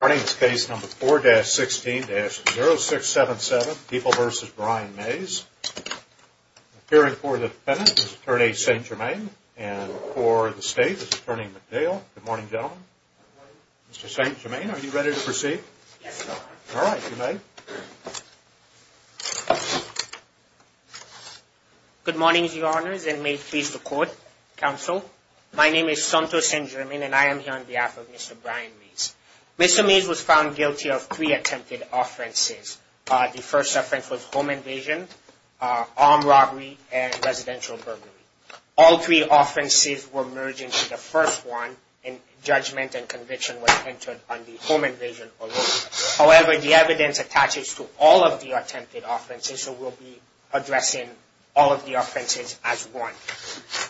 Mornings case number 4-16-0677 People v. Brian Mays. Appearing for the defendant is attorney St. Germain and for the state is attorney McDale. Good morning gentlemen. Good morning. Mr. St. Germain, are you ready to proceed? Yes, your honor. Alright, good night. Good mornings your honors and may it please the court, counsel. My name is Santos St. Germain and I am here on behalf of Mr. Brian Mays. Mr. Mays was found guilty of three attempted offenses. The first offense was home invasion, armed robbery, and residential burglary. All three offenses were merged into the first one and judgment and conviction was entered on the home invasion alone. However, the evidence attaches to all of the attempted offenses so we'll be addressing all of the offenses as one.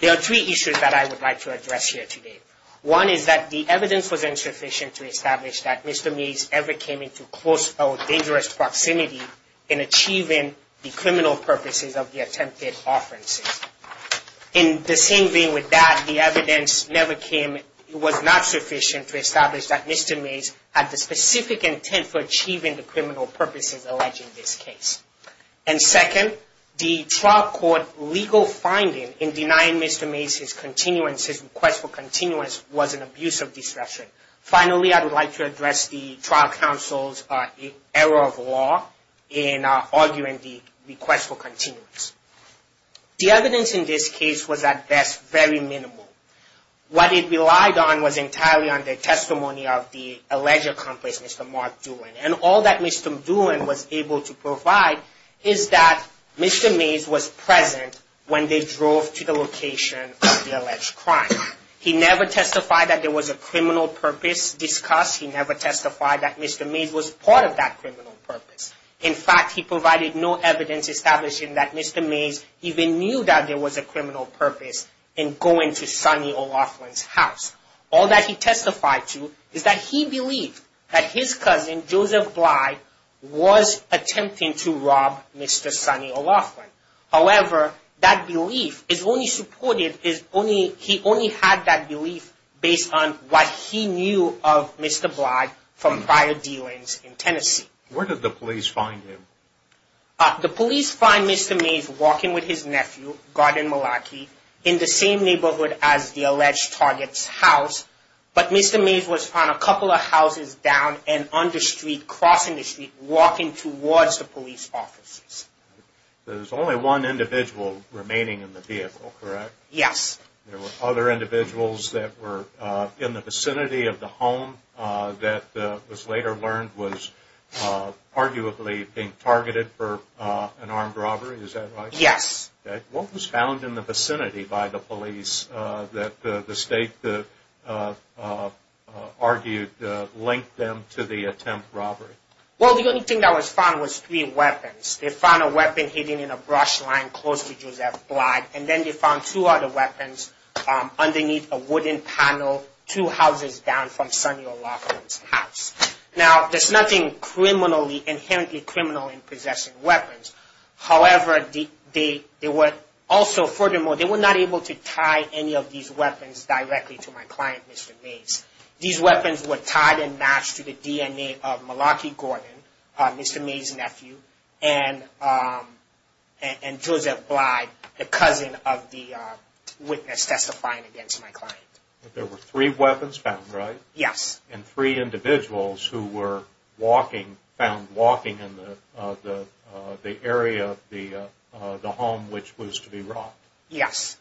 There are three issues that I would like to address here today. One is that the evidence was insufficient to establish that Mr. Mays ever came into close or dangerous proximity in achieving the criminal purposes of the attempted offenses. In the same vein with that, the evidence never came, it was not sufficient to establish that Mr. Mays had the specific intent for achieving the criminal purposes alleged in this case. And second, the trial court legal finding in denying Mr. Mays his request for continuance was an abuse of discretion. Finally, I would like to address the trial counsel's error of law in arguing the request for continuance. The evidence in this case was at best very minimal. What it relied on was entirely on the testimony of the alleged accomplice, Mr. Mark Doolin. And all that Mr. Doolin was able to provide is that Mr. Mays was present when they drove to the location of the alleged crime. He never testified that there was a criminal purpose discussed. He never testified that Mr. Mays was part of that criminal purpose. In fact, he provided no evidence establishing that Mr. Mays even knew that there was a criminal purpose in going to Sonny O'Loughlin's house. All that he testified to is that he believed that his cousin, Joseph Blyde, was attempting to rob Mr. Sonny O'Loughlin. However, that belief is only supported, he only had that belief based on what he knew of Mr. Blyde from prior dealings in Tennessee. Where did the police find him? The police find Mr. Mays walking with his nephew, Gordon Malaki, in the same neighborhood as the alleged target's house. But Mr. Mays was found a couple of houses down and on the street, crossing the street, walking towards the police officers. There's only one individual remaining in the vehicle, correct? Yes. There were other individuals that were in the vicinity of the home that was later learned was arguably being targeted for an armed robbery, is that right? Yes. What was found in the vicinity by the police that the state argued linked them to the attempt robbery? Well, the only thing that was found was three weapons. They found a weapon hidden in a brush line close to Joseph Blyde, and then they found two other weapons underneath a wooden panel, two houses down from Sonny O'Loughlin's house. Now, there's nothing criminally, inherently criminal in possessing weapons. However, they were also, furthermore, they were not able to tie any of these weapons directly to my client, Mr. Mays. These weapons were tied and matched to the DNA of Malachi Gordon, Mr. Mays' nephew, and Joseph Blyde, the cousin of the witness testifying against my client. There were three weapons found, right? Yes. And three individuals who were walking, found walking in the area of the home which was to be robbed. Yes.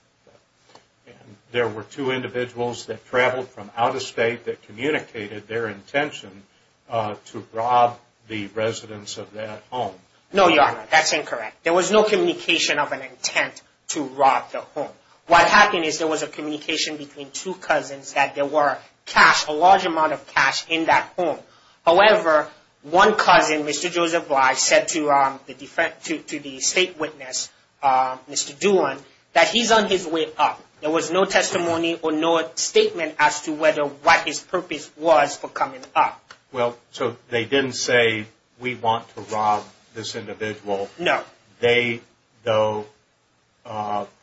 There were two individuals that traveled from out of state that communicated their intention to rob the residence of that home. No, Your Honor, that's incorrect. There was no communication of an intent to rob the home. What happened is there was a communication between two cousins that there were cash, a large amount of cash in that home. However, one cousin, Mr. Joseph Blyde, said to the state witness, Mr. Doohan, that he's on his way up. There was no testimony or no statement as to whether what his purpose was for coming up. Well, so they didn't say, we want to rob this individual. No. They, though,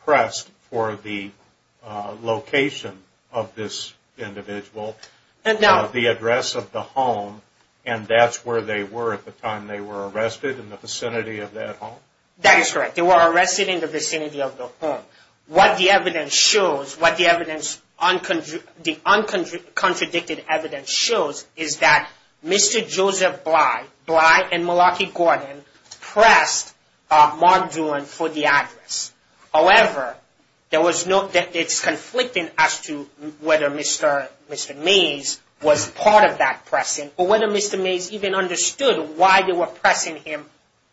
pressed for the location of this individual, the address of the home, and that's where they were at the time they were arrested, in the vicinity of that home? That is correct. They were arrested in the vicinity of the home. What the evidence shows, what the evidence, the uncontradicted evidence shows, is that Mr. Joseph Blyde, Blyde and Malaki Gordon, pressed Mark Doohan for the address. However, there was no, it's conflicting as to whether Mr. Mays was part of that pressing, or whether Mr. Mays even understood why they were pressing him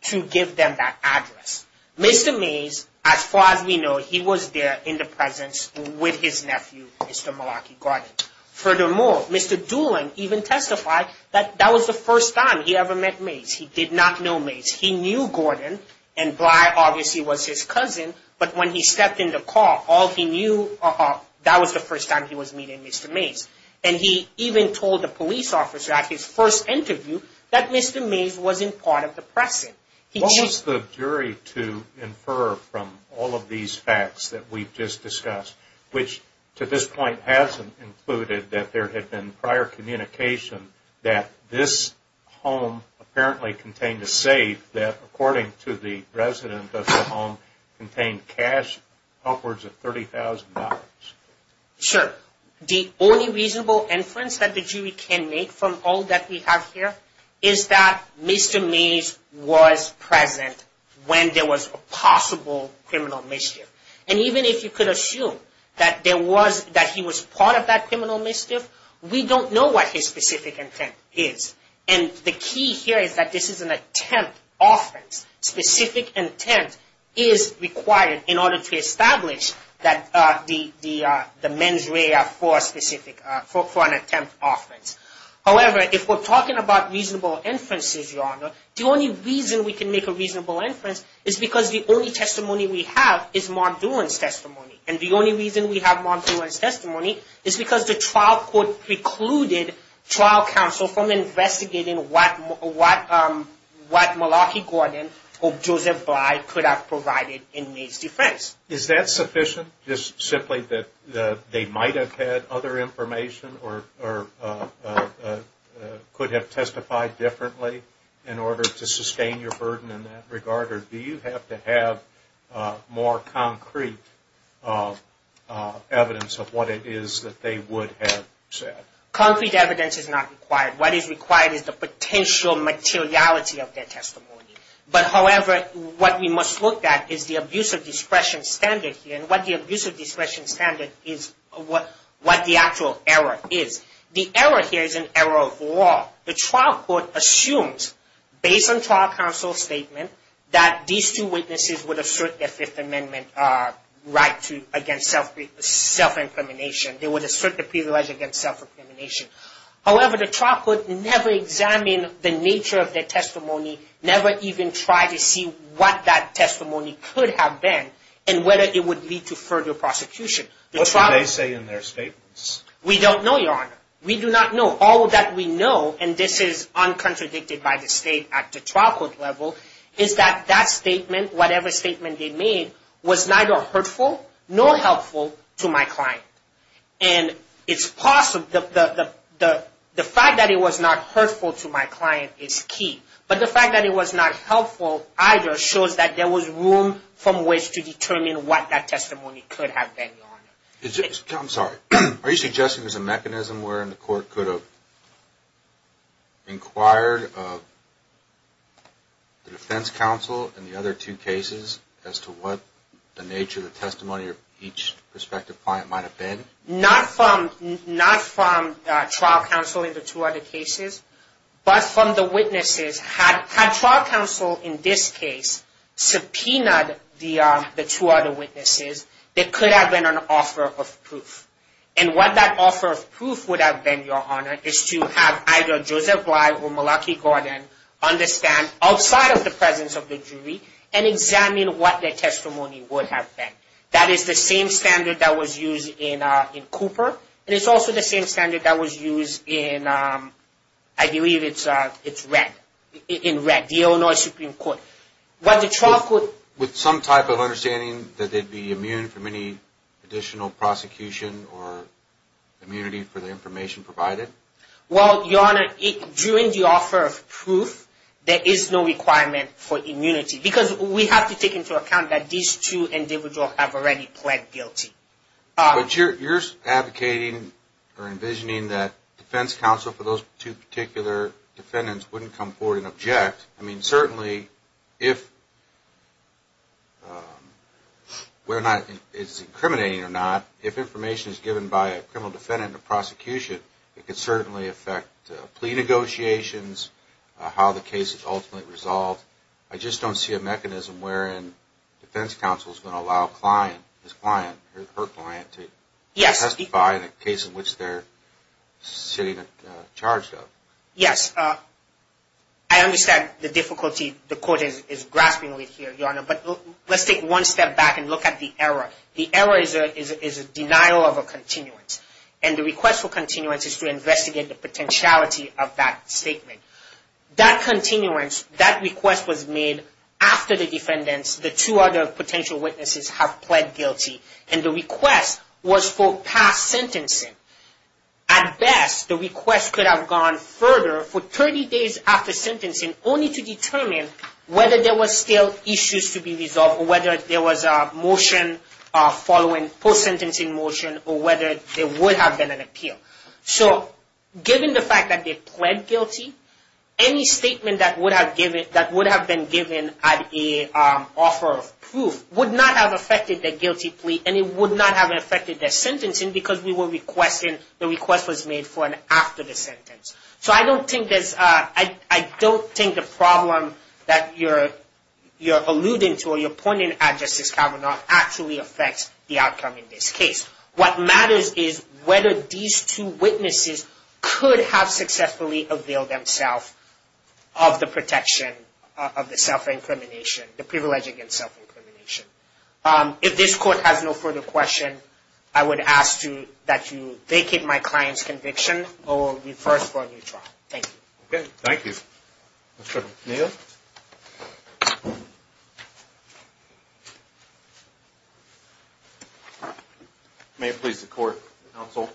to give them that address. Mr. Mays, as far as we know, he was there in the presence with his nephew, Mr. Malaki Gordon. Furthermore, Mr. Doohan even testified that that was the first time he ever met Mays. He did not know Mays. He knew Gordon, and Blyde obviously was his cousin, but when he stepped in the car, all he knew, that was the first time he was meeting Mr. Mays. And he even told the police officer at his first interview that Mr. Mays wasn't part of the pressing. What was the jury to infer from all of these facts that we've just discussed, which to this point hasn't included that there had been prior communication that this home apparently contained a safe that, according to the resident of the home, contained cash upwards of $30,000? Sure. The only reasonable inference that the jury can make from all that we have here is that Mr. Mays was present when there was a possible criminal mischief. And even if you could assume that there was, that he was part of that criminal mischief, we don't know what his specific intent is. And the key here is that this is an attempt offense. Specific intent is required in order to establish the mens rea for an attempt offense. However, if we're talking about reasonable inferences, Your Honor, the only reason we can make a reasonable inference is because the only testimony we have is Mark Doohan's testimony. And the only reason we have Mark Doohan's testimony is because the trial court precluded trial counsel from investigating what Malachi Gordon or Joseph Bly could have provided in Mays' defense. Is that sufficient? Just simply that they might have had other information or could have testified differently in order to sustain your burden in that regard? Or do you have to have more concrete evidence of what it is that they would have said? Concrete evidence is not required. What is required is the potential materiality of their testimony. But however, what we must look at is the abuse of discretion standard here. And what the abuse of discretion standard is, what the actual error is. The error here is an error of law. The trial court assumes, based on trial counsel's statement, that these two witnesses would assert their Fifth Amendment right against self-incrimination. They would assert the privilege against self-incrimination. However, the trial court never examined the nature of their testimony, never even tried to see what that testimony could have been and whether it would lead to further prosecution. What did they say in their statements? We don't know, Your Honor. We do not know. All that we know, and this is uncontradicted by the state at the trial court level, is that that statement, whatever statement they made, was neither hurtful nor helpful to my client. And it's possible, the fact that it was not hurtful to my client is key. But the fact that it was not helpful either shows that there was room from which to determine what that testimony could have been, Your Honor. I'm sorry. Are you suggesting there's a mechanism wherein the court could have inquired the defense counsel in the other two cases as to what the nature of the testimony of each prospective client might have been? Not from trial counsel in the two other cases, but from the witnesses. Had trial counsel in this case subpoenaed the two other witnesses, there could have been an offer of proof. And what that offer of proof would have been, Your Honor, is to have either Joseph Bly or Malaki Gordon understand outside of the presence of the jury and examine what their testimony would have been. That is the same standard that was used in Cooper, and it's also the same standard that was used in, I believe it's in Red, the Illinois Supreme Court. With some type of understanding that they'd be immune from any additional prosecution or immunity for the information provided? Well, Your Honor, during the offer of proof, there is no requirement for immunity because we have to take into account that these two individuals have already pled guilty. But you're advocating or envisioning that defense counsel for those two particular defendants wouldn't come forward and object. I mean, certainly, whether or not it's incriminating or not, if information is given by a criminal defendant in a prosecution, it could certainly affect plea negotiations, how the case is ultimately resolved. I just don't see a mechanism wherein defense counsel is going to allow his client or her client to testify in a case in which they're sitting at charge of. Yes, I understand the difficulty the court is grasping with here, Your Honor, but let's take one step back and look at the error. The error is a denial of a continuance, and the request for continuance is to investigate the potentiality of that statement. That continuance, that request was made after the defendants, the two other potential witnesses, have pled guilty, and the request was for past sentencing. At best, the request could have gone further for 30 days after sentencing only to determine whether there were still issues to be resolved or whether there was a motion following, post-sentencing motion, or whether there would have been an appeal. So, given the fact that they pled guilty, any statement that would have been given at the offer of proof would not have affected their guilty plea and it would not have affected their sentencing because the request was made for and after the sentence. So, I don't think the problem that you're alluding to or you're pointing at, Justice Kavanaugh, actually affects the outcome in this case. What matters is whether these two witnesses could have successfully availed themselves of the protection of the self-incrimination, the privilege against self-incrimination. If this Court has no further questions, I would ask that you vacate my client's conviction or refer us for a new trial. Thank you. Okay. Thank you. Mr. O'Neill? May it please the Court, counsel.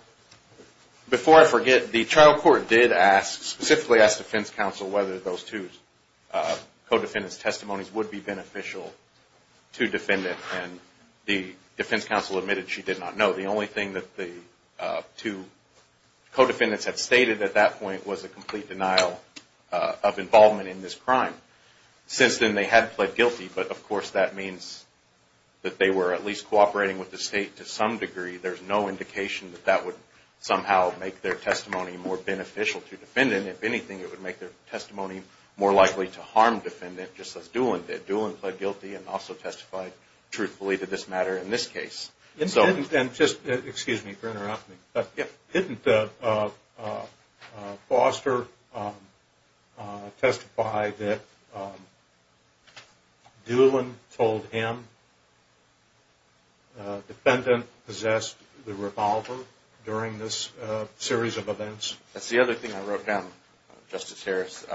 Before I forget, the trial court did ask, specifically asked defense counsel, whether those two co-defendants' testimonies would be beneficial to defendant, and the defense counsel admitted she did not know. The only thing that the two co-defendants had stated at that point was a complete denial of involvement in this crime. Since then, they had pled guilty, but of course that means that they were at least cooperating with the State to some degree. There's no indication that that would somehow make their testimony more beneficial to defendant. If anything, it would make their testimony more likely to harm defendant, just as Doolin did. Doolin pled guilty and also testified truthfully to this matter in this case. And just, excuse me for interrupting, but didn't Foster testify that Doolin told him defendant possessed the revolver during this series of events? That's the other thing I wrote down, Justice Harris.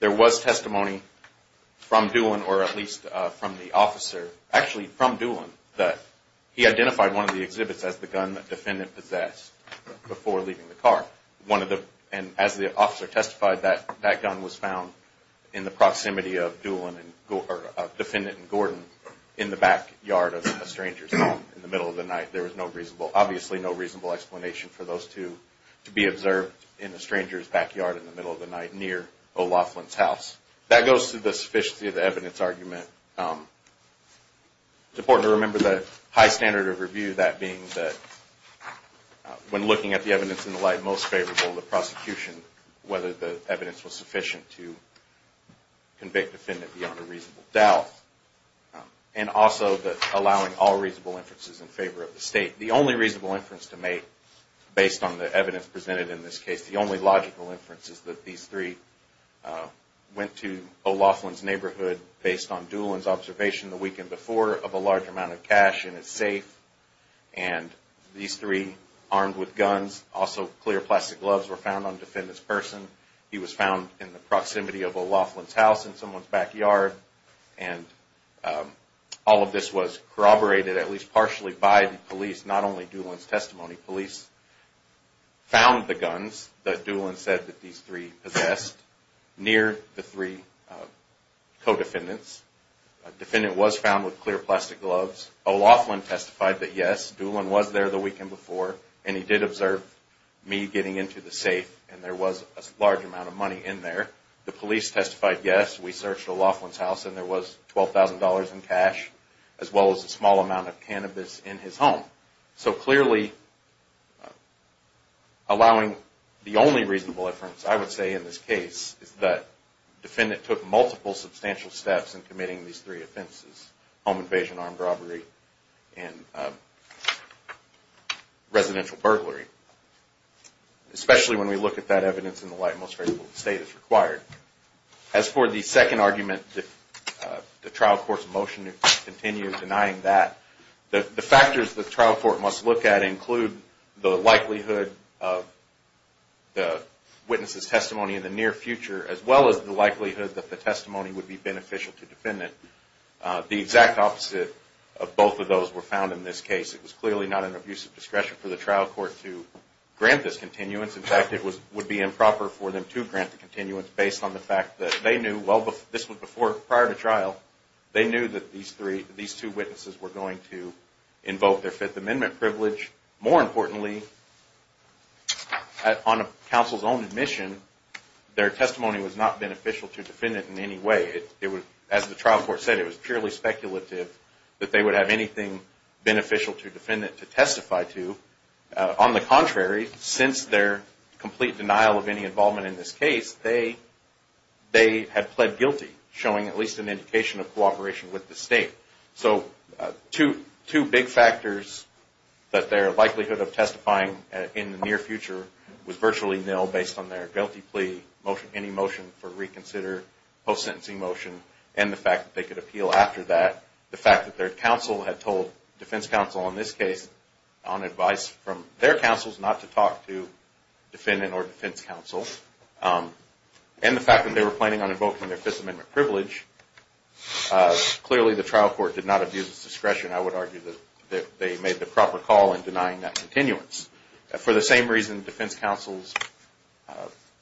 There was testimony from Doolin, or at least from the officer, actually from Doolin, that he identified one of the exhibits as the gun that defendant possessed before leaving the car. And as the officer testified, that gun was found in the proximity of Doolin and, or defendant and Gordon in the backyard of a stranger's home in the middle of the night. There was no reasonable, obviously no reasonable explanation for those two to be observed in a stranger's backyard in the middle of the night near O'Loughlin's house. That goes to the sufficiency of the evidence argument. It's important to remember the high standard of review, that being that when looking at the evidence in the light most favorable of the prosecution, whether the evidence was sufficient to convict defendant beyond a reasonable doubt. And also that allowing all reasonable inferences in favor of the state. The only reasonable inference to make, based on the evidence presented in this case, the only logical inference is that these three went to O'Loughlin's neighborhood, based on Doolin's observation the weekend before, of a large amount of cash in his safe. And these three, armed with guns, also clear plastic gloves, were found on defendant's person. He was found in the proximity of O'Loughlin's house in someone's backyard. And all of this was corroborated, at least partially, by the police, not only Doolin's testimony. Police found the guns that Doolin said that these three possessed near the three co-defendants. Defendant was found with clear plastic gloves. O'Loughlin testified that yes, Doolin was there the weekend before. And he did observe me getting into the safe. And there was a large amount of money in there. The police testified yes, we searched O'Loughlin's house and there was $12,000 in cash, as well as a small amount of cannabis in his home. So clearly, allowing the only reasonable inference, I would say in this case, is that defendant took multiple substantial steps in committing these three offenses. Home invasion, armed robbery, and residential burglary. Especially when we look at that evidence in the light in which the state is required. As for the second argument, the trial court's motion continues denying that. The factors the trial court must look at include the likelihood of the witness's testimony in the near future, as well as the likelihood that the testimony would be beneficial to defendant. The exact opposite of both of those were found in this case. It was clearly not an abusive discretion for the trial court to grant this continuance. In fact, it would be improper for them to grant the continuance based on the fact that they knew, well, this was prior to trial, they knew that these two witnesses were going to invoke their Fifth Amendment privilege. More importantly, on counsel's own admission, their testimony was not beneficial to defendant in any way. As the trial court said, it was purely speculative that they would have anything beneficial to defendant to testify to. On the contrary, since their complete denial of any involvement in this case, they had pled guilty, showing at least an indication of cooperation with the state. So, two big factors that their likelihood of testifying in the near future was virtually nil, based on their guilty plea motion, any motion for reconsider, post-sentencing motion, and the fact that they could appeal after that. The fact that their counsel had told defense counsel in this case, on advice from their counsels, not to talk to defendant or defense counsel. And the fact that they were planning on invoking their Fifth Amendment privilege. Clearly, the trial court did not abuse its discretion. I would argue that they made the proper call in denying that continuance. For the same reason, defense counsel's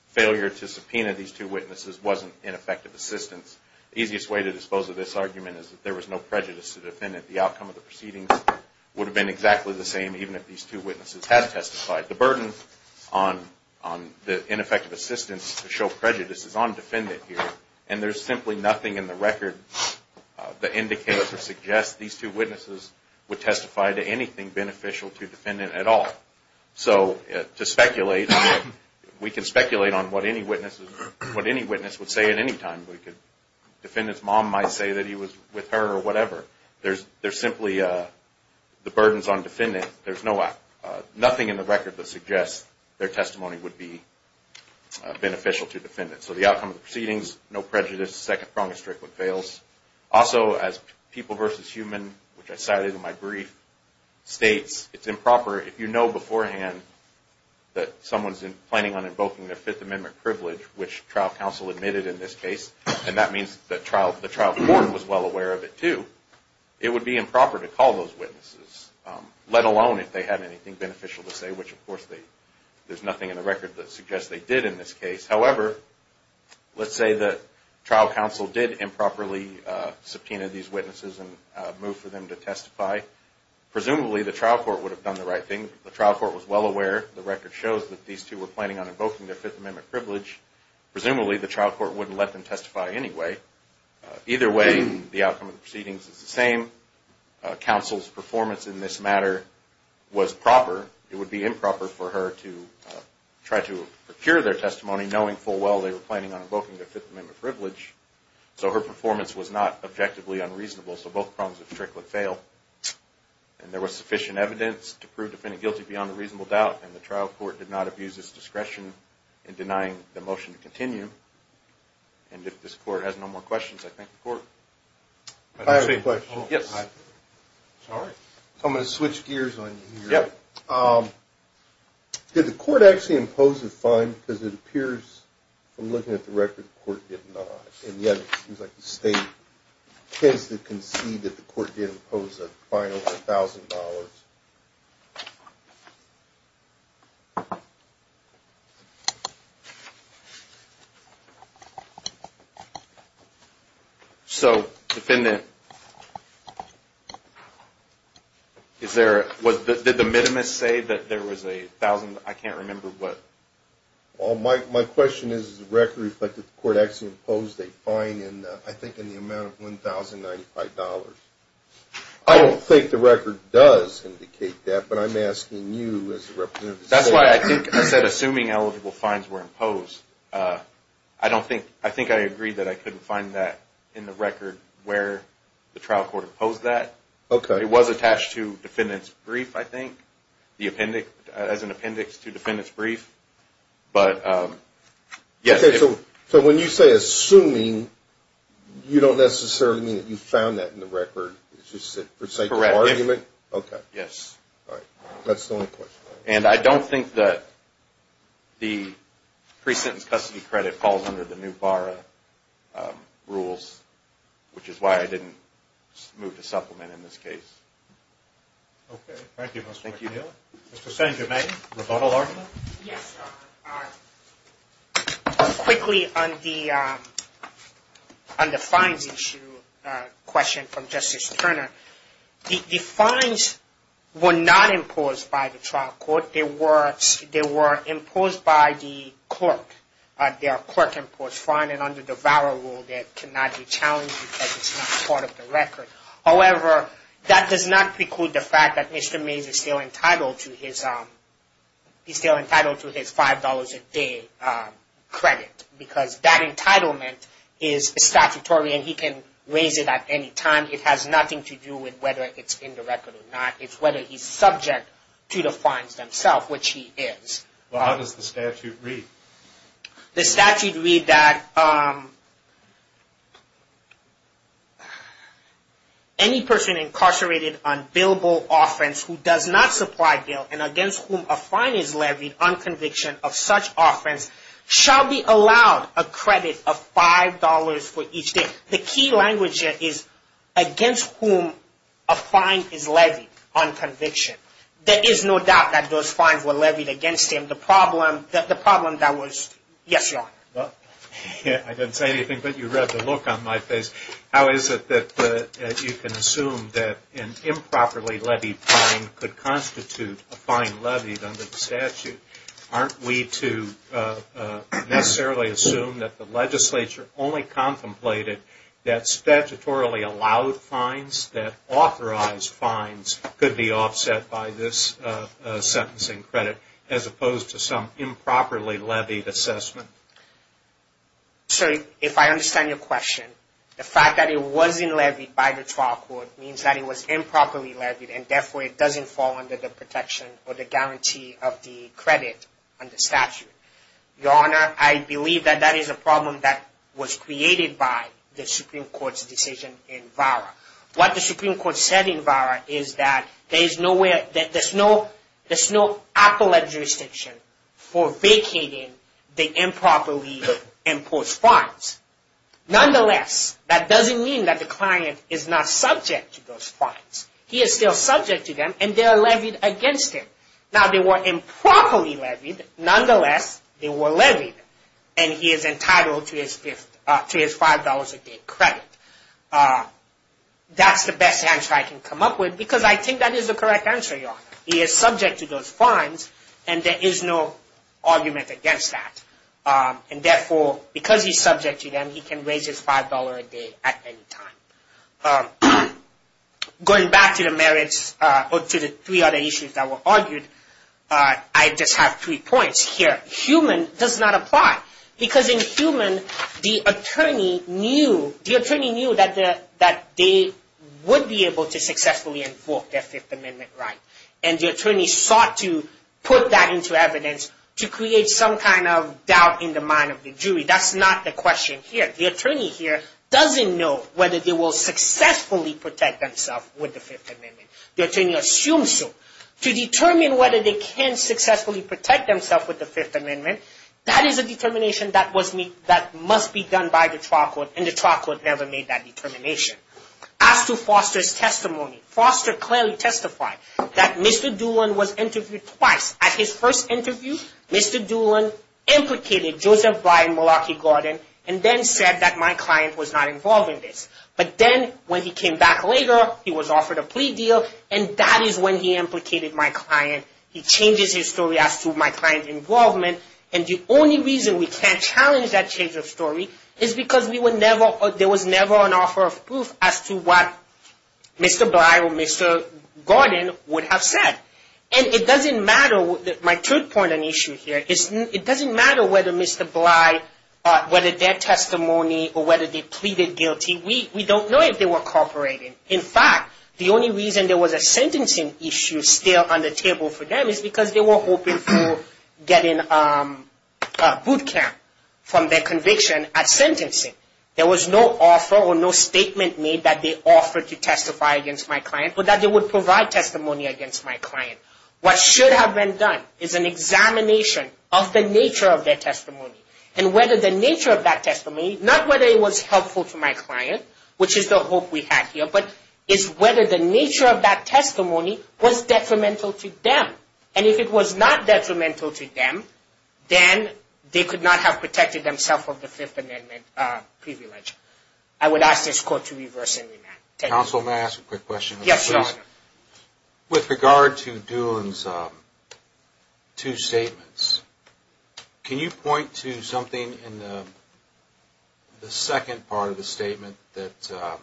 failure to subpoena these two witnesses wasn't ineffective assistance. The easiest way to dispose of this argument is that there was no prejudice to defendant. The outcome of the proceedings would have been exactly the same, even if these two witnesses had testified. The burden on the ineffective assistance to show prejudice is on defendant here, and there's simply nothing in the record that indicates or suggests these two witnesses would testify to anything beneficial to defendant at all. So, to speculate, we can speculate on what any witness would say at any time. Defendant's mom might say that he was with her or whatever. There's simply the burdens on defendant. There's nothing in the record that suggests their testimony would be beneficial to defendant. And so the outcome of the proceedings, no prejudice, second prong is strict with fails. Also, as People v. Human, which I cited in my brief, states, it's improper if you know beforehand that someone's planning on invoking their Fifth Amendment privilege, which trial counsel admitted in this case, and that means the trial court was well aware of it too, it would be improper to call those witnesses, let alone if they had anything beneficial to say, which of course there's nothing in the record that suggests they did in this case. However, let's say that trial counsel did improperly subpoena these witnesses and move for them to testify. Presumably, the trial court would have done the right thing. The trial court was well aware. The record shows that these two were planning on invoking their Fifth Amendment privilege. Presumably, the trial court wouldn't let them testify anyway. Either way, the outcome of the proceedings is the same. Counsel's performance in this matter was proper. It would be improper for her to try to procure their testimony knowing full well they were planning on invoking their Fifth Amendment privilege. So her performance was not objectively unreasonable, so both prongs of strict with fail. And there was sufficient evidence to prove defendant guilty beyond a reasonable doubt, and the trial court did not abuse its discretion in denying the motion to continue. And if this court has no more questions, I thank the court. I have a question. Yes. Sorry. I'm going to switch gears on you. Yep. Did the court actually impose a fine? Because it appears from looking at the record the court did not. And yet it seems like the state tends to concede that the court did impose a fine over $1,000. So, defendant, did the minimus say that there was a $1,000? I can't remember what. Well, my question is, does the record reflect that the court actually imposed a fine, I think, in the amount of $1,095? I don't think the record does indicate that, but I'm asking you as the representative. That's why I think I said assuming eligible fines were imposed. I think I agreed that I couldn't find that in the record where the trial court imposed that. Okay. It was attached to defendant's brief, I think, as an appendix to defendant's brief. Okay. So when you say assuming, you don't necessarily mean that you found that in the record. It's just a forsaken argument? Correct. Okay. Yes. All right. That's the only question. And I don't think that the pre-sentence custody credit falls under the new BARA rules, which is why I didn't move to supplement in this case. Okay. Thank you, Mr. McNeil. Thank you. Mr. San Jermaine, rebuttal argument? Yes, Your Honor. All right. Quickly on the fines issue question from Justice Turner. The fines were not imposed by the trial court. They were imposed by the clerk. There are clerk-imposed fines, and under the BARA rule, that cannot be challenged because it's not part of the record. However, that does not preclude the fact that Mr. Mays is still entitled to his $5 a day credit because that entitlement is statutory and he can raise it at any time. It has nothing to do with whether it's in the record or not. It's whether he's subject to the fines themselves, which he is. Well, how does the statute read? The statute read that any person incarcerated on billable offense who does not supply bail and against whom a fine is levied on conviction of such offense shall be allowed a credit of $5 for each day. The key language here is against whom a fine is levied on conviction. There is no doubt that those fines were levied against him. Yes, Your Honor. I didn't say anything, but you read the look on my face. How is it that you can assume that an improperly levied fine could constitute a fine levied under the statute? Aren't we to necessarily assume that the legislature only contemplated that statutorily allowed fines, that authorized fines could be offset by this sentencing credit as opposed to some improperly levied assessment? Sir, if I understand your question, the fact that it wasn't levied by the trial court means that it was improperly levied and therefore it doesn't fall under the protection or the guarantee of the credit under statute. Your Honor, I believe that that is a problem that was created by the Supreme Court's decision in VARA. What the Supreme Court said in VARA is that there is no appellate jurisdiction for vacating the improperly imposed fines. Nonetheless, that doesn't mean that the client is not subject to those fines. He is still subject to them and they are levied against him. Now, they were improperly levied. Nonetheless, they were levied and he is entitled to his $5 a day credit. That's the best answer I can come up with because I think that is the correct answer, Your Honor. He is subject to those fines and there is no argument against that. And therefore, because he is subject to them, he can raise his $5 a day at any time. Going back to the merits or to the three other issues that were argued, I just have three points here. Human does not apply because in human, the attorney knew that they would be able to successfully invoke their Fifth Amendment right. And the attorney sought to put that into evidence to create some kind of doubt in the mind of the jury. That's not the question here. The attorney here doesn't know whether they will successfully protect themselves with the Fifth Amendment. The attorney assumes so. To determine whether they can successfully protect themselves with the Fifth Amendment, that is a determination that must be done by the trial court. And the trial court never made that determination. As to Foster's testimony, Foster clearly testified that Mr. Doolin was interviewed twice. At his first interview, Mr. Doolin implicated Joseph Brian Malarkey-Gordon and then said that my client was not involved in this. But then when he came back later, he was offered a plea deal and that is when he implicated my client. He changes his story as to my client's involvement. And the only reason we can't challenge that change of story is because there was never an offer of proof as to what Mr. Brian or Mr. Gordon would have said. And it doesn't matter, my third point and issue here, it doesn't matter whether Mr. Bly, whether their testimony or whether they pleaded guilty, we don't know if they were cooperating. In fact, the only reason there was a sentencing issue still on the table for them is because they were hoping for getting a boot camp from their conviction at sentencing. There was no offer or no statement made that they offered to testify against my client or that they would provide testimony against my client. What should have been done is an examination of the nature of their testimony. And whether the nature of that testimony, not whether it was helpful to my client, which is the hope we had here, but is whether the nature of that testimony was detrimental to them. And if it was not detrimental to them, then they could not have protected themselves of the Fifth Amendment privilege. I would ask this Court to reverse and remand. Counsel, may I ask a quick question? Yes, Your Honor. With regard to Doolin's two statements, can you point to something in the second part of the statement that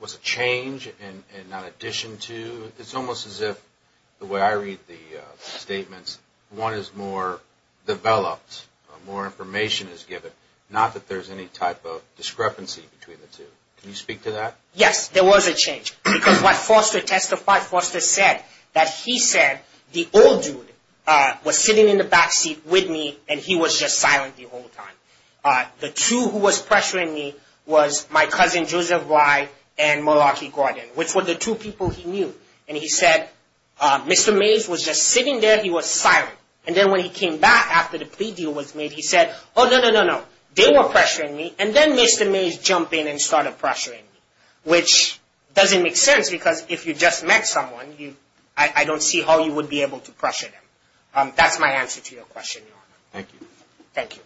was a change and not addition to? It's almost as if the way I read the statements, one is more developed, more information is given, not that there's any type of discrepancy between the two. Can you speak to that? Yes, there was a change. Because what Foster testified, Foster said that he said the old dude was sitting in the backseat with me and he was just silent the whole time. The two who was pressuring me was my cousin, Joseph Rye, and Milwaukee Gordon, which were the two people he knew. And he said, Mr. Mays was just sitting there, he was silent. And then when he came back after the plea deal was made, he said, oh, no, no, no, no. They were pressuring me. And then Mr. Mays jumped in and started pressuring me, which doesn't make sense because if you just met someone, I don't see how you would be able to pressure them. That's my answer to your question, Your Honor. Thank you.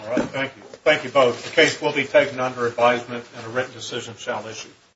All right. Thank you. Thank you both. The case will be taken under advisement and a written decision shall issue.